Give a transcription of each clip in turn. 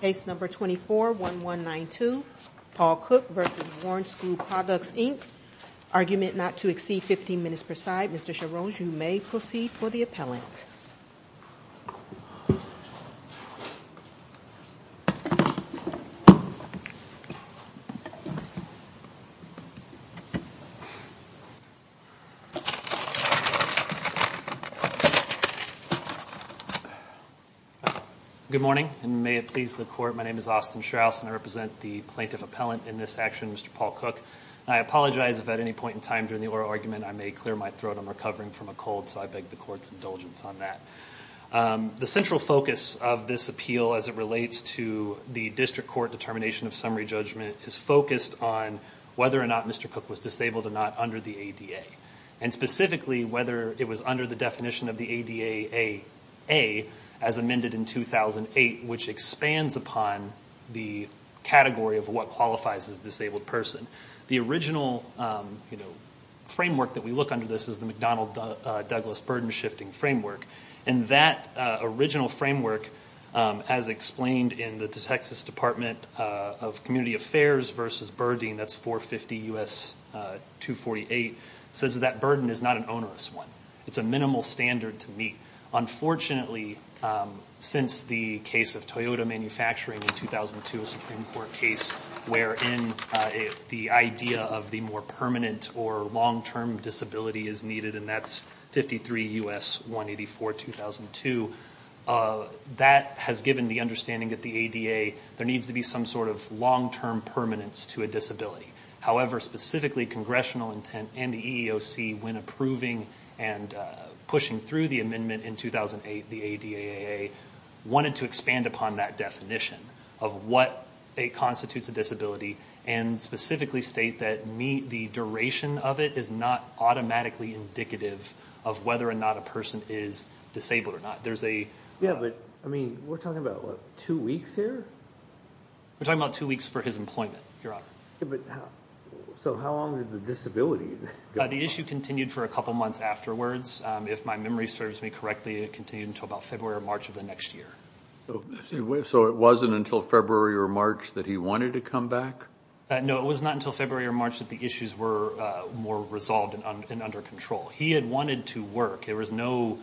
Case No. 24-1192, Paul Cook v. Warren Screw Products Inc. Argument not to exceed 15 minutes per side. Mr. Charron, you may proceed for the appellant. Good morning, and may it please the Court, my name is Austin Strauss, and I represent the plaintiff appellant in this action, Mr. Paul Cook. I apologize if at any point in time during the oral argument I may clear my throat. I'm recovering from a cold, so I beg the Court's indulgence on that. The central focus of this appeal as it relates to the District Court determination of summary judgment is focused on whether or not Mr. Cook was disabled or not under the ADA. And specifically, whether it was under the definition of the ADA as amended in 2008, which expands upon the category of what qualifies as a disabled person. The original framework that we look under this is the McDonnell-Douglas Burden-Shifting Framework. And that original framework, as explained in the Texas Department of Community Affairs v. Burdeen, that's 450 U.S. 248, says that that burden is not an onerous one. It's a minimal standard to meet. Unfortunately, since the case of Toyota manufacturing in 2002, a Supreme Court case wherein the idea of the more permanent or long-term disability is needed, and that's 53 U.S. 184, 2002, that has given the understanding that the ADA, there needs to be some sort of long-term permanence to a disability. However, specifically, congressional intent and the EEOC, when approving and pushing through the amendment in 2008, the ADAA, wanted to expand upon that definition of what constitutes a disability and specifically state that the duration of it is not automatically indicative of whether or not a person is disabled or not. We're talking about two weeks here? We're talking about two weeks for his employment, Your Honor. So how long did the disability go on? The issue continued for a couple months afterwards. If my memory serves me correctly, it continued until about February or March of the next year. So it wasn't until February or March that he wanted to come back? No, it was not until February or March that the issues were more resolved and under control. He had wanted to work. There was no,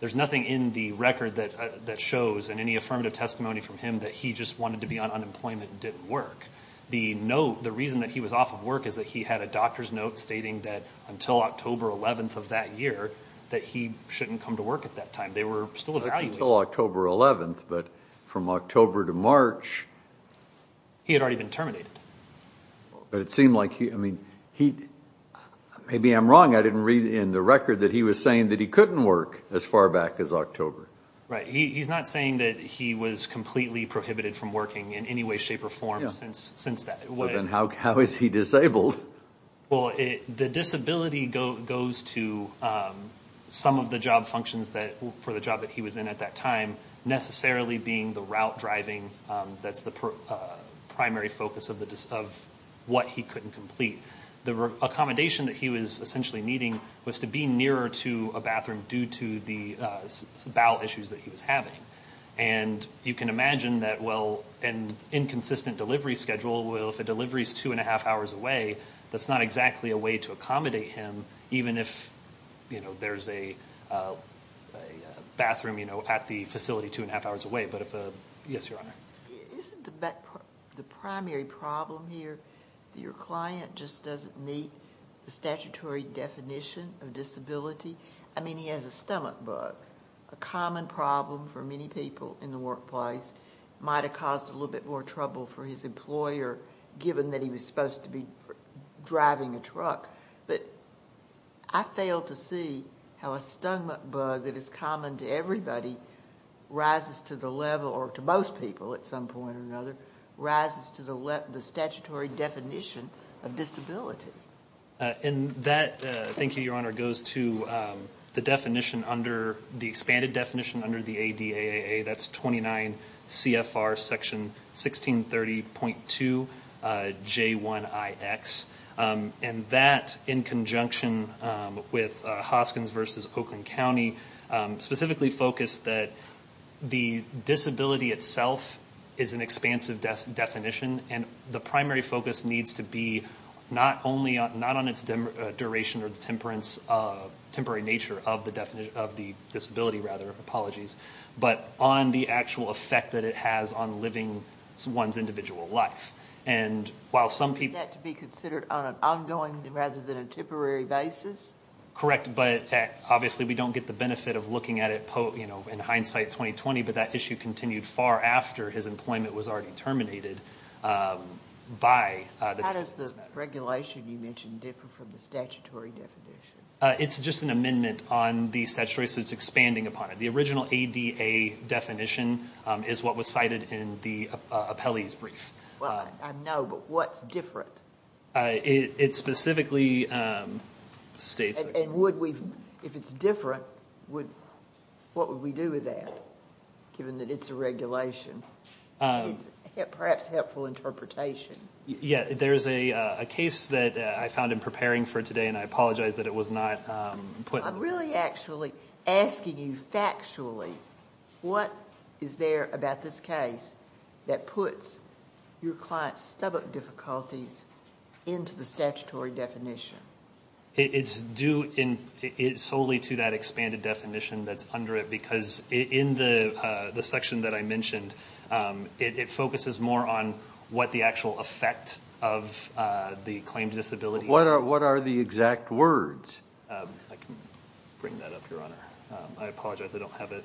there's nothing in the record that shows in any affirmative testimony from him that he just wanted to be on unemployment and didn't work. The note, the reason that he was off of work is that he had a doctor's note stating that until October 11th of that year that he shouldn't come to work at that time. They were still evaluating. Until October 11th, but from October to March. He had already been terminated. But it seemed like he, I mean, he, maybe I'm wrong, I didn't read in the record that he was saying that he couldn't work as far back as October. Right, he's not saying that he was completely prohibited from working in any way, shape, or form since that. Then how is he disabled? Well, the disability goes to some of the job functions that, for the job that he was in at that time, necessarily being the route driving. That's the primary focus of what he couldn't complete. The accommodation that he was essentially needing was to be nearer to a bathroom due to the bowel issues that he was having. You can imagine that, well, an inconsistent delivery schedule, if a delivery is two and a half hours away, that's not exactly a way to accommodate him, even if there's a bathroom at the facility two and a half hours away. Yes, Your Honor. Isn't the primary problem here that your client just doesn't meet the statutory definition of disability? I mean, he has a stomach bug, a common problem for many people in the workplace. It might have caused a little bit more trouble for his employer, given that he was supposed to be driving a truck. But I fail to see how a stomach bug that is common to everybody rises to the level, or to most people at some point or another, rises to the statutory definition of disability. And that, thank you, Your Honor, goes to the expanded definition under the ADAA. That's 29 CFR Section 1630.2 J1IX. And that, in conjunction with Hoskins v. Oakland County, specifically focused that the disability itself is an expansive definition, and the primary focus needs to be not only on its duration or the temporary nature of the disability, but on the actual effect that it has on living one's individual life. Is that to be considered on an ongoing rather than a temporary basis? Correct, but obviously we don't get the benefit of looking at it in hindsight 2020, but that issue continued far after his employment was already terminated by the Defense Matters Act. How does the regulation you mentioned differ from the statutory definition? It's just an amendment on the statutory, so it's expanding upon it. The original ADAA definition is what was cited in the appellee's brief. Well, I know, but what's different? It specifically states... And if it's different, what would we do with that, given that it's a regulation? It's perhaps helpful interpretation. Yeah, there's a case that I found in preparing for today, and I apologize that it was not put... I'm really actually asking you factually, what is there about this case that puts your client's stomach difficulties into the statutory definition? It's due solely to that expanded definition that's under it, because in the section that I mentioned, it focuses more on what the actual effect of the claimed disability is. What are the exact words? I can bring that up, Your Honor. I apologize, I don't have it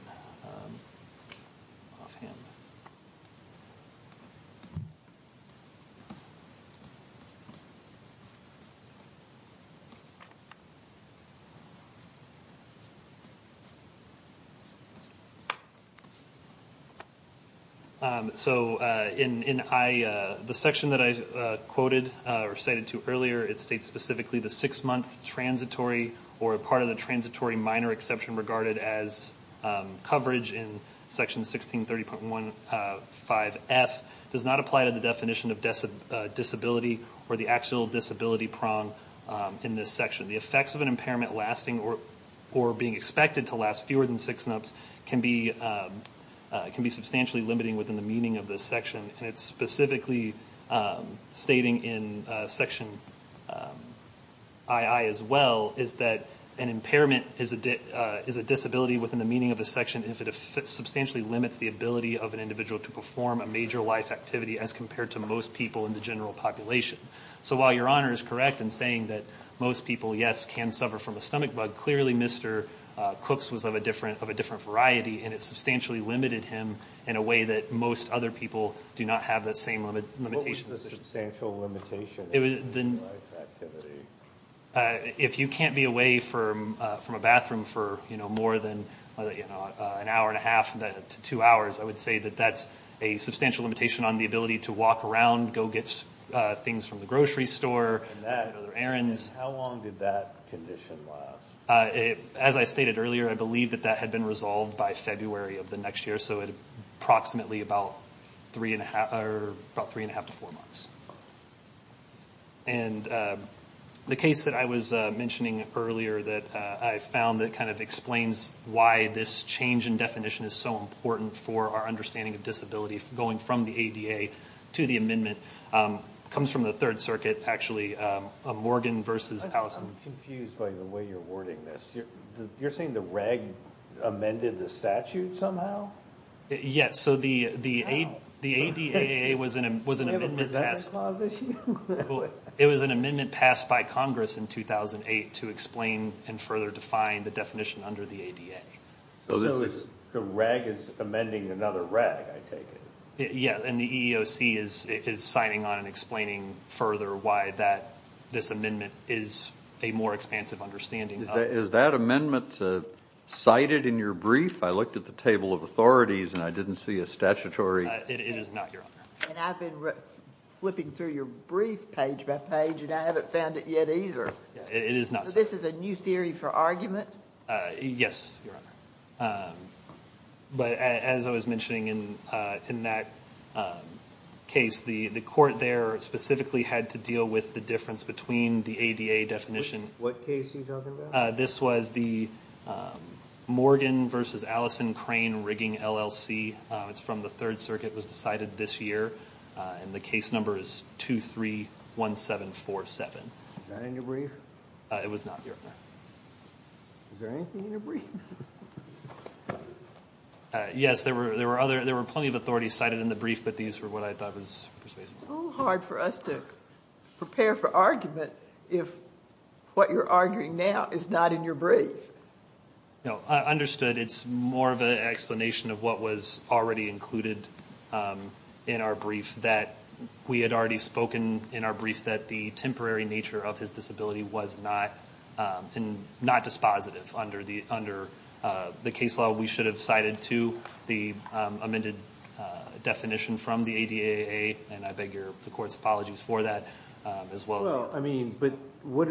offhand. So, in the section that I quoted or cited to earlier, it states specifically the six-month transitory or part of the transitory minor exception regarded as coverage in Section 1630.15F does not apply to the definition of disability or the actual disability prong in this section. The effects of an impairment lasting or being expected to last fewer than six months can be substantially limiting within the meaning of this section. And it's specifically stating in Section II as well, is that an impairment is a disability within the meaning of a section if it substantially limits the ability of an individual to perform a major life activity as compared to most people in the general population. So while Your Honor is correct in saying that most people, yes, can suffer from a stomach bug, clearly Mr. Cooks was of a different variety, and it substantially limited him in a way that most other people do not have the same limitations. What was the substantial limitation? If you can't be away from a bathroom for more than an hour and a half to two hours, I would say that that's a substantial limitation on the ability to walk around, go get things from the grocery store, make other errands. And how long did that condition last? As I stated earlier, I believe that that had been resolved by February of the next year, so approximately about three and a half to four months. And the case that I was mentioning earlier that I found that kind of explains why this change in definition is so important for our understanding of disability, going from the ADA to the amendment, comes from the Third Circuit, actually, Morgan v. Allison. I'm confused by the way you're wording this. You're saying the reg amended the statute somehow? Yes, so the ADA was an amendment passed. It was an amendment passed by Congress in 2008 to explain and further define the definition under the ADA. So the reg is amending another reg, I take it. Yes, and the EEOC is signing on and explaining further why this amendment is a more expansive understanding. Is that amendment cited in your brief? I looked at the table of authorities and I didn't see a statutory. It is not, Your Honor. And I've been flipping through your brief page by page and I haven't found it yet either. It is not. So this is a new theory for argument? Yes, Your Honor. But as I was mentioning in that case, the court there specifically had to deal with the difference between the ADA definition. What case are you talking about? This was the Morgan v. Allison Crane rigging LLC. It's from the Third Circuit. It was decided this year. And the case number is 231747. Is that in your brief? It was not, Your Honor. Is there anything in your brief? Yes, there were plenty of authorities cited in the brief, but these were what I thought was persuasive. It's a little hard for us to prepare for argument if what you're arguing now is not in your brief. No, I understood. It's more of an explanation of what was already included in our brief, that we had already spoken in our brief that the temporary nature of his disability was not dispositive under the case law. We should have cited to the amended definition from the ADAA, and I beg the Court's apologies for that as well. Well, I mean, but what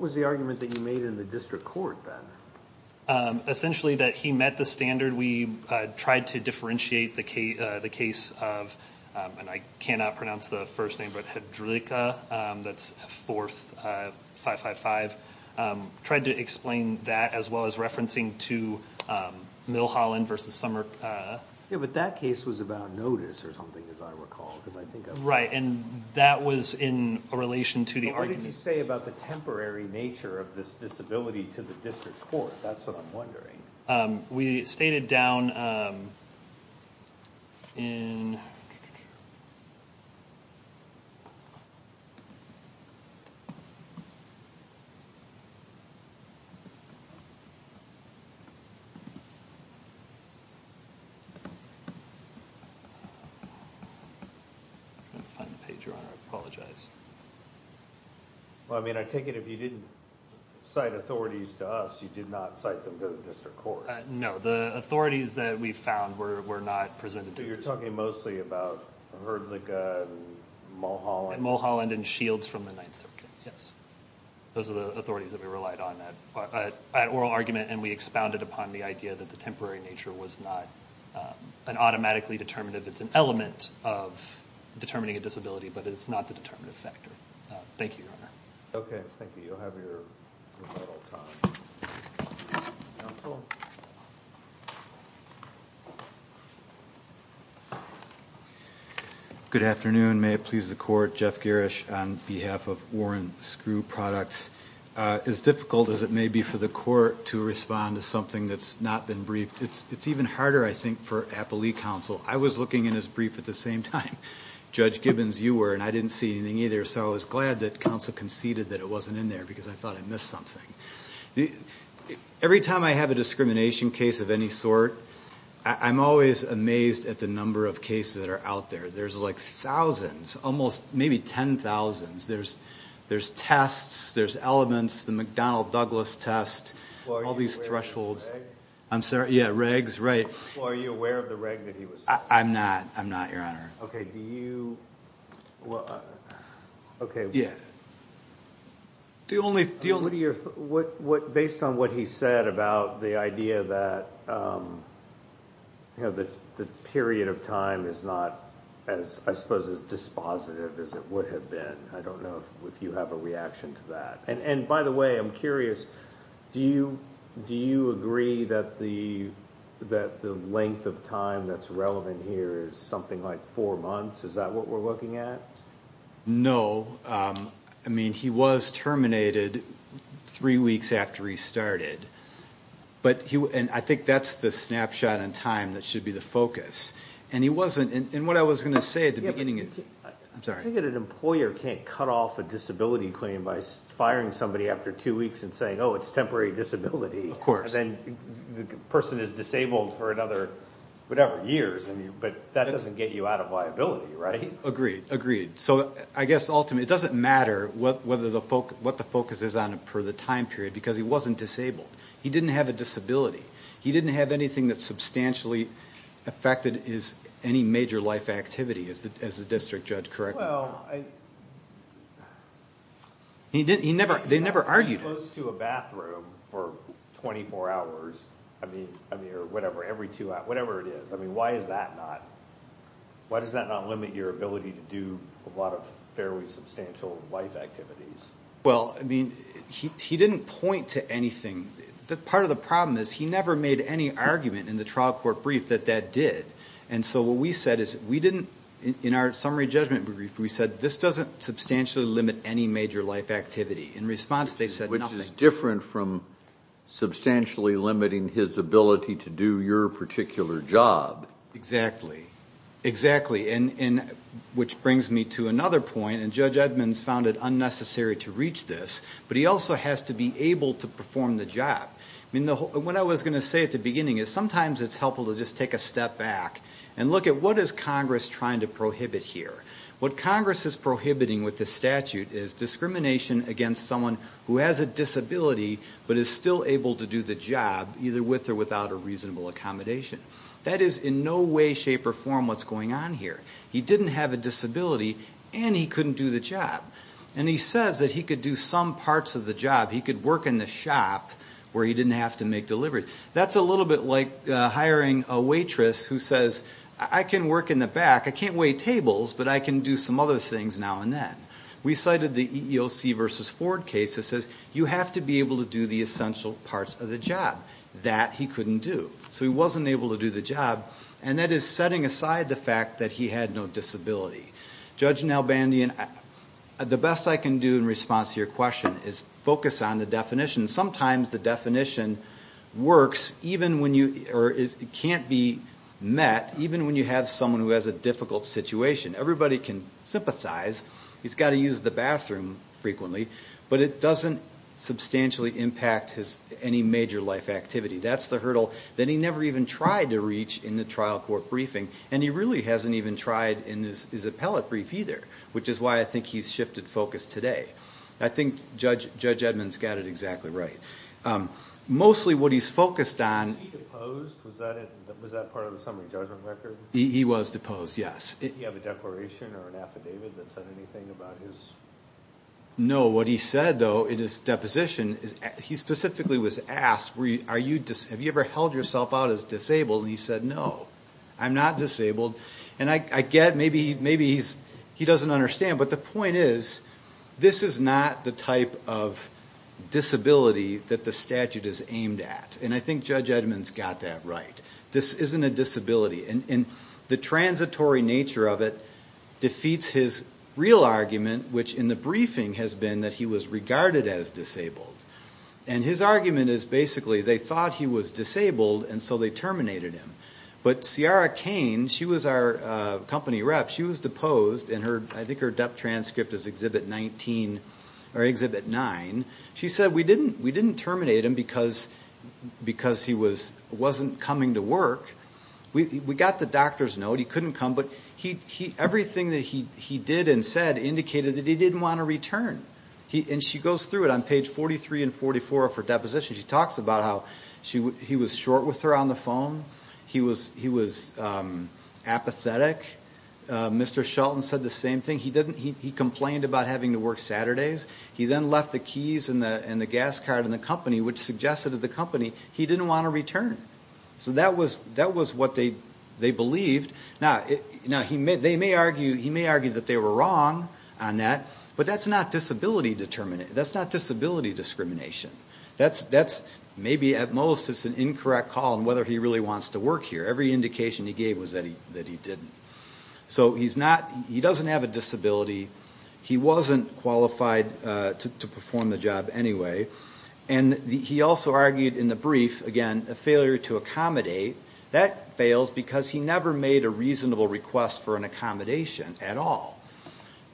was the argument that you made in the district court then? Essentially that he met the standard. We tried to differentiate the case of, and I cannot pronounce the first name, but Hedricka. That's 4555. Tried to explain that as well as referencing to Milholland v. Summer. Yeah, but that case was about notice or something, as I recall. Right, and that was in relation to the argument. What did you say about the temporary nature of this disability to the district court? That's what I'm wondering. We stated down in—I'm trying to find the page you're on. I apologize. Well, I mean, I take it if you didn't cite authorities to us, you did not cite them to the district court. No, the authorities that we found were not presented to the district court. So you're talking mostly about Hedricka and Milholland. Milholland and Shields from the Ninth Circuit, yes. Those are the authorities that we relied on at oral argument, and we expounded upon the idea that the temporary nature was not an automatically determinative. It's an element of determining a disability, but it's not the determinative factor. Thank you, Your Honor. Okay, thank you. You'll have your rebuttal time. Counsel? Good afternoon. May it please the Court. Jeff Gerrish on behalf of Warren Screw Products. As difficult as it may be for the Court to respond to something that's not been briefed, it's even harder, I think, for Appelee Counsel. I was looking in his brief at the same time. Judge Gibbons, you were, and I didn't see anything either, so I was glad that counsel conceded that it wasn't in there because I thought I missed something. Every time I have a discrimination case of any sort, I'm always amazed at the number of cases that are out there. There's, like, thousands, almost maybe 10,000. There's tests, there's elements, the McDonnell-Douglas test, all these thresholds. Are you aware of the reg? I'm sorry? Yeah, regs, right. Well, are you aware of the reg that he was saying? I'm not, I'm not, Your Honor. Okay, do you, well, okay. Do you only, do you only Based on what he said about the idea that the period of time is not, I suppose, as dispositive as it would have been. I don't know if you have a reaction to that. And by the way, I'm curious, do you agree that the length of time that's relevant here is something like four months? Is that what we're looking at? No. I mean, he was terminated three weeks after he started, and I think that's the snapshot in time that should be the focus. And he wasn't, and what I was going to say at the beginning is, I'm sorry. I think that an employer can't cut off a disability claim by firing somebody after two weeks and saying, oh, it's temporary disability. Of course. And then the person is disabled for another, whatever, years. But that doesn't get you out of liability, right? Agreed, agreed. So I guess ultimately, it doesn't matter what the focus is on for the time period, because he wasn't disabled. He didn't have a disability. He didn't have anything that substantially affected his... any major life activity, as the district judge corrected. Well, I... He never... they never argued it. He was close to a bathroom for twenty-four hours, I mean, or whatever, every two hours, whatever it is. I mean, why is that not... why does that not limit your ability to do a lot of fairly substantial life activities? Well, I mean, he didn't point to anything. Part of the problem is, he never made any argument in the trial court brief that that did. And so what we said is, we didn't... in our summary judgment brief, we said, this doesn't substantially limit any major life activity. In response, they said nothing. Which is different from substantially limiting his ability to do your particular job. Exactly. Exactly. And which brings me to another point, and Judge Edmonds found it unnecessary to reach this. But he also has to be able to perform the job. I mean, what I was going to say at the beginning is, sometimes it's helpful to just take a step back... and look at what is Congress trying to prohibit here. What Congress is prohibiting with this statute is discrimination against someone who has a disability... but is still able to do the job, either with or without a reasonable accommodation. That is in no way, shape or form, what's going on here. He didn't have a disability and he couldn't do the job. And, he says that he could do some parts of the job. He could work in the shop, where he didn't have to make deliveries. That's a little bit like hiring a waitress who says, I can work in the back. I can't wait tables, but I can do some other things now and then. We cited the EEOC versus Ford case that says, you have to be able to do the essential parts of the job. That, he couldn't do. So, he wasn't able to do the job and that is setting aside the fact that he had no disability. Judge Nalbandian, the best I can do in response to your question is focus on the definition. Sometimes the definition works, even when you... or it can't be met, even when you have someone who has a difficult situation. Everybody can sympathize. He's got to use the bathroom frequently, but it doesn't substantially impact any major life activity. That's the hurdle that he never even tried to reach in the trial court briefing... And, he really hasn't even tried in his appellate brief either, which is why I think he's shifted focus today. I think Judge Edmonds got it exactly right. Mostly, what he's focused on... Was he deposed? Was that part of the summary judgment record? He was deposed, yes. Did he have a declaration or an affidavit that said anything about his... No, what he said though, in his deposition, he specifically was asked, have you ever held yourself out as disabled? And, he said, no, I'm not disabled. And, I get maybe he doesn't understand, but the point is... This is not the type of disability that the statute is aimed at. And, I think Judge Edmonds got that right. This isn't a disability. And, the transitory nature of it, defeats his real argument, which in the briefing has been that he was regarded as disabled. And, his argument is basically, they thought he was disabled, and so they terminated him. But, Ciara Kane, she was our company rep. She was deposed, and I think her debt transcript is Exhibit 19, or Exhibit 9. She said, we didn't terminate him because he wasn't coming to work. We got the doctor's note. He couldn't come, but everything that he did and said, indicated that he didn't want to return. And, she goes through it on page 43 and 44 of her deposition. She talks about how he was short with her on the phone. He was apathetic. Mr. Shelton said the same thing. He complained about having to work Saturdays. He then left the keys and the gas card in the company, which suggested to the company, he didn't want to return. So, that was what they believed. Now, he may argue that they were wrong on that, but that's not disability discrimination. That's, maybe at most, an incorrect call on whether he really wants to work here. Every indication he gave was that he didn't. So, he doesn't have a disability. He wasn't qualified to perform the job anyway. And, he also argued in the brief, again, a failure to accommodate. That fails because he never made a reasonable request for an accommodation at all.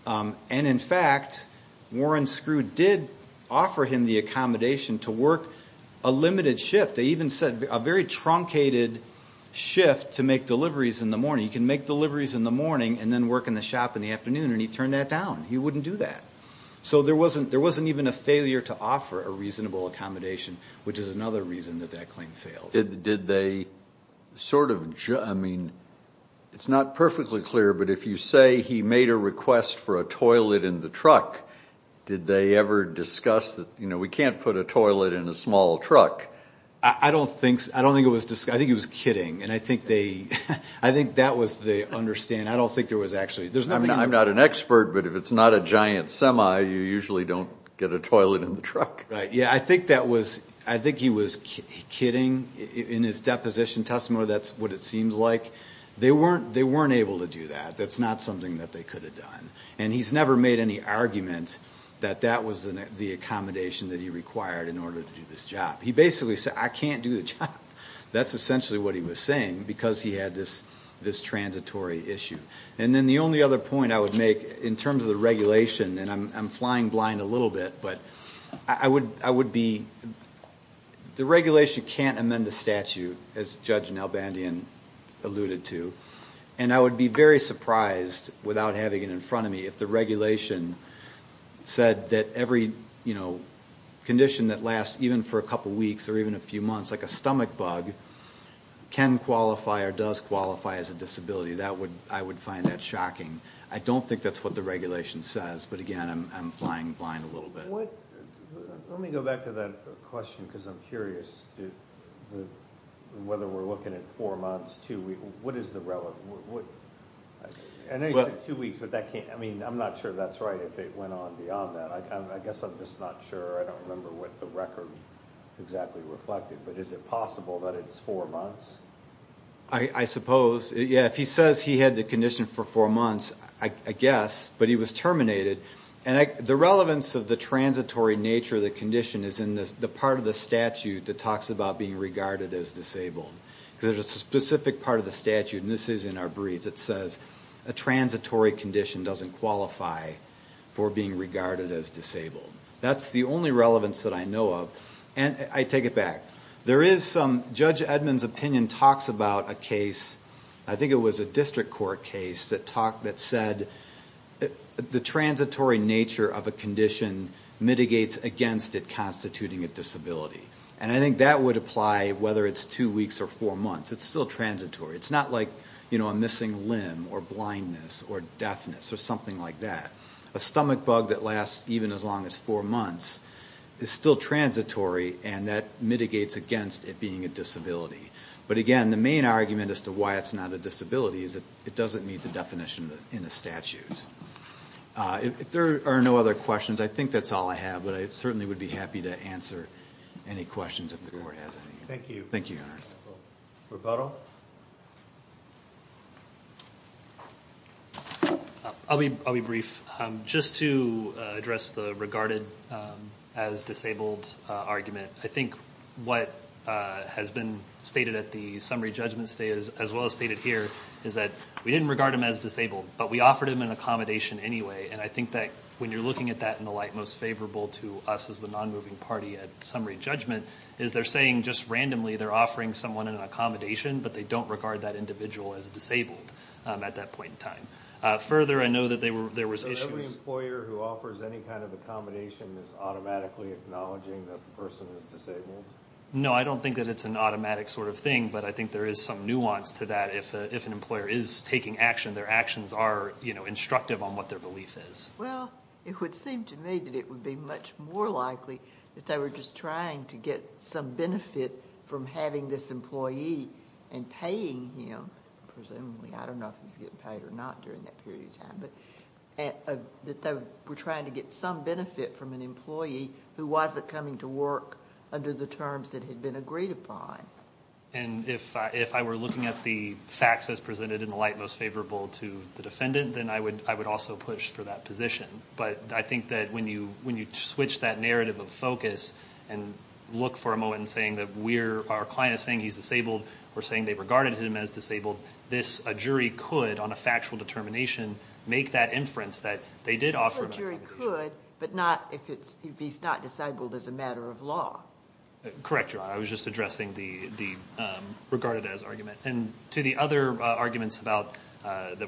And, in fact, Warren Screw did offer him the accommodation to work a limited shift. They even said a very truncated shift to make deliveries in the morning. You can make deliveries in the morning and then work in the shop in the afternoon. And, he turned that down. He wouldn't do that. So, there wasn't even a failure to offer a reasonable accommodation, which is another reason that that claim failed. Did they sort of, I mean, it's not perfectly clear, but if you say he made a request for a toilet in the truck, did they ever discuss that, you know, we can't put a toilet in a small truck? I don't think it was discussed. I think he was kidding. And, I think that was the understanding. I don't think there was actually. I'm not an expert, but if it's not a giant semi, you usually don't get a toilet in the truck. Right. Yeah, I think that was. I think he was kidding. In his deposition testimony, that's what it seems like. They weren't able to do that. That's not something that they could have done. And, he's never made any argument that that was the accommodation that he required in order to do this job. He basically said, I can't do the job. That's essentially what he was saying because he had this transitory issue. And, then the only other point I would make in terms of the regulation, and I'm flying blind a little bit, but I would be, the regulation can't amend the statute as Judge Nalbandian alluded to. And, I would be very surprised without having it in front of me if the regulation said that every, you know, condition that lasts even for a couple weeks or even a few months, like a stomach bug, can qualify or does qualify as a disability. I would find that shocking. I don't think that's what the regulation says. But, again, I'm flying blind a little bit. Let me go back to that question because I'm curious whether we're looking at four months, two weeks. What is the relevant? I know you said two weeks, but that can't, I mean, I'm not sure that's right if it went on beyond that. I guess I'm just not sure. I don't remember what the record exactly reflected. But, is it possible that it's four months? I suppose. Yeah, if he says he had the condition for four months, I guess, but he was terminated. And, the relevance of the transitory nature of the condition is in the part of the statute that talks about being regarded as disabled. There's a specific part of the statute, and this is in our brief, that says a transitory condition doesn't qualify for being regarded as disabled. That's the only relevance that I know of. And, I take it back. Judge Edmunds' opinion talks about a case, I think it was a district court case, that said the transitory nature of a condition mitigates against it constituting a disability. And, I think that would apply whether it's two weeks or four months. It's still transitory. It's not like a missing limb or blindness or deafness or something like that. A stomach bug that lasts even as long as four months is still transitory, and that mitigates against it being a disability. But, again, the main argument as to why it's not a disability is that it doesn't meet the definition in the statute. If there are no other questions, I think that's all I have, but I certainly would be happy to answer any questions if the Court has any. Thank you. Thank you, Your Honors. Roberto? I'll be brief. Just to address the regarded as disabled argument, I think what has been stated at the summary judgment as well as stated here is that we didn't regard him as disabled, but we offered him an accommodation anyway. And, I think that when you're looking at that in the light most favorable to us as the non-moving party at summary judgment, is they're saying just randomly they're offering someone an accommodation, but they don't regard that individual as disabled at that point in time. Further, I know that there was issues... So every employer who offers any kind of accommodation is automatically acknowledging that the person is disabled? No, I don't think that it's an automatic sort of thing, but I think there is some nuance to that. If an employer is taking action, their actions are instructive on what their belief is. Well, it would seem to me that it would be much more likely that they were just trying to get some benefit from having this employee and paying him, presumably. I don't know if he was getting paid or not during that period of time, but that they were trying to get some benefit from an employee who wasn't coming to work under the terms that had been agreed upon. And, if I were looking at the facts as presented in the light most favorable to the defendant, then I would also push for that position. But, I think that when you switch that narrative of focus and look for a moment in saying that our client is saying he's disabled or saying they regarded him as disabled, a jury could, on a factual determination, make that inference that they did offer accommodation. A jury could, but not if he's not disabled as a matter of law. Correct, Your Honor. I was just addressing the regarded as argument. And, to the other arguments that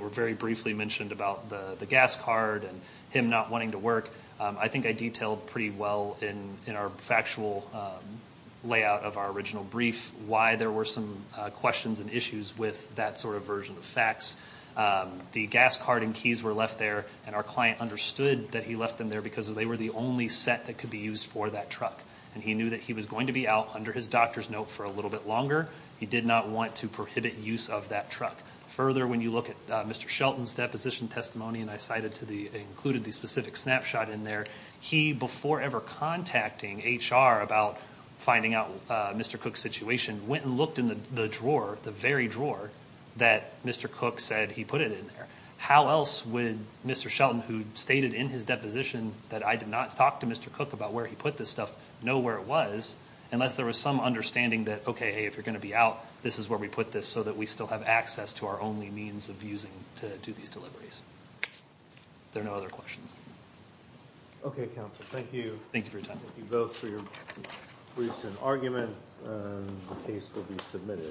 were very briefly mentioned about the gas card and him not wanting to work, I think I detailed pretty well in our factual layout of our original brief why there were some questions and issues with that sort of version of facts. The gas card and keys were left there, and our client understood that he left them there because they were the only set that could be used for that truck. And, he knew that he was going to be out under his doctor's note for a little bit longer. He did not want to prohibit use of that truck. Further, when you look at Mr. Shelton's deposition testimony, and I included the specific snapshot in there, he, before ever contacting HR about finding out Mr. Cook's situation, went and looked in the drawer, the very drawer, that Mr. Cook said he put it in there. How else would Mr. Shelton, who stated in his deposition that I did not talk to Mr. Cook about where he put this stuff, know where it was unless there was some understanding that, okay, hey, if you're going to be out, this is where we put this so that we still have access to our only means of using to do these deliveries. If there are no other questions. Okay, counsel. Thank you. Thank you for your time. Thank you both for your briefs and argument. The case will be submitted.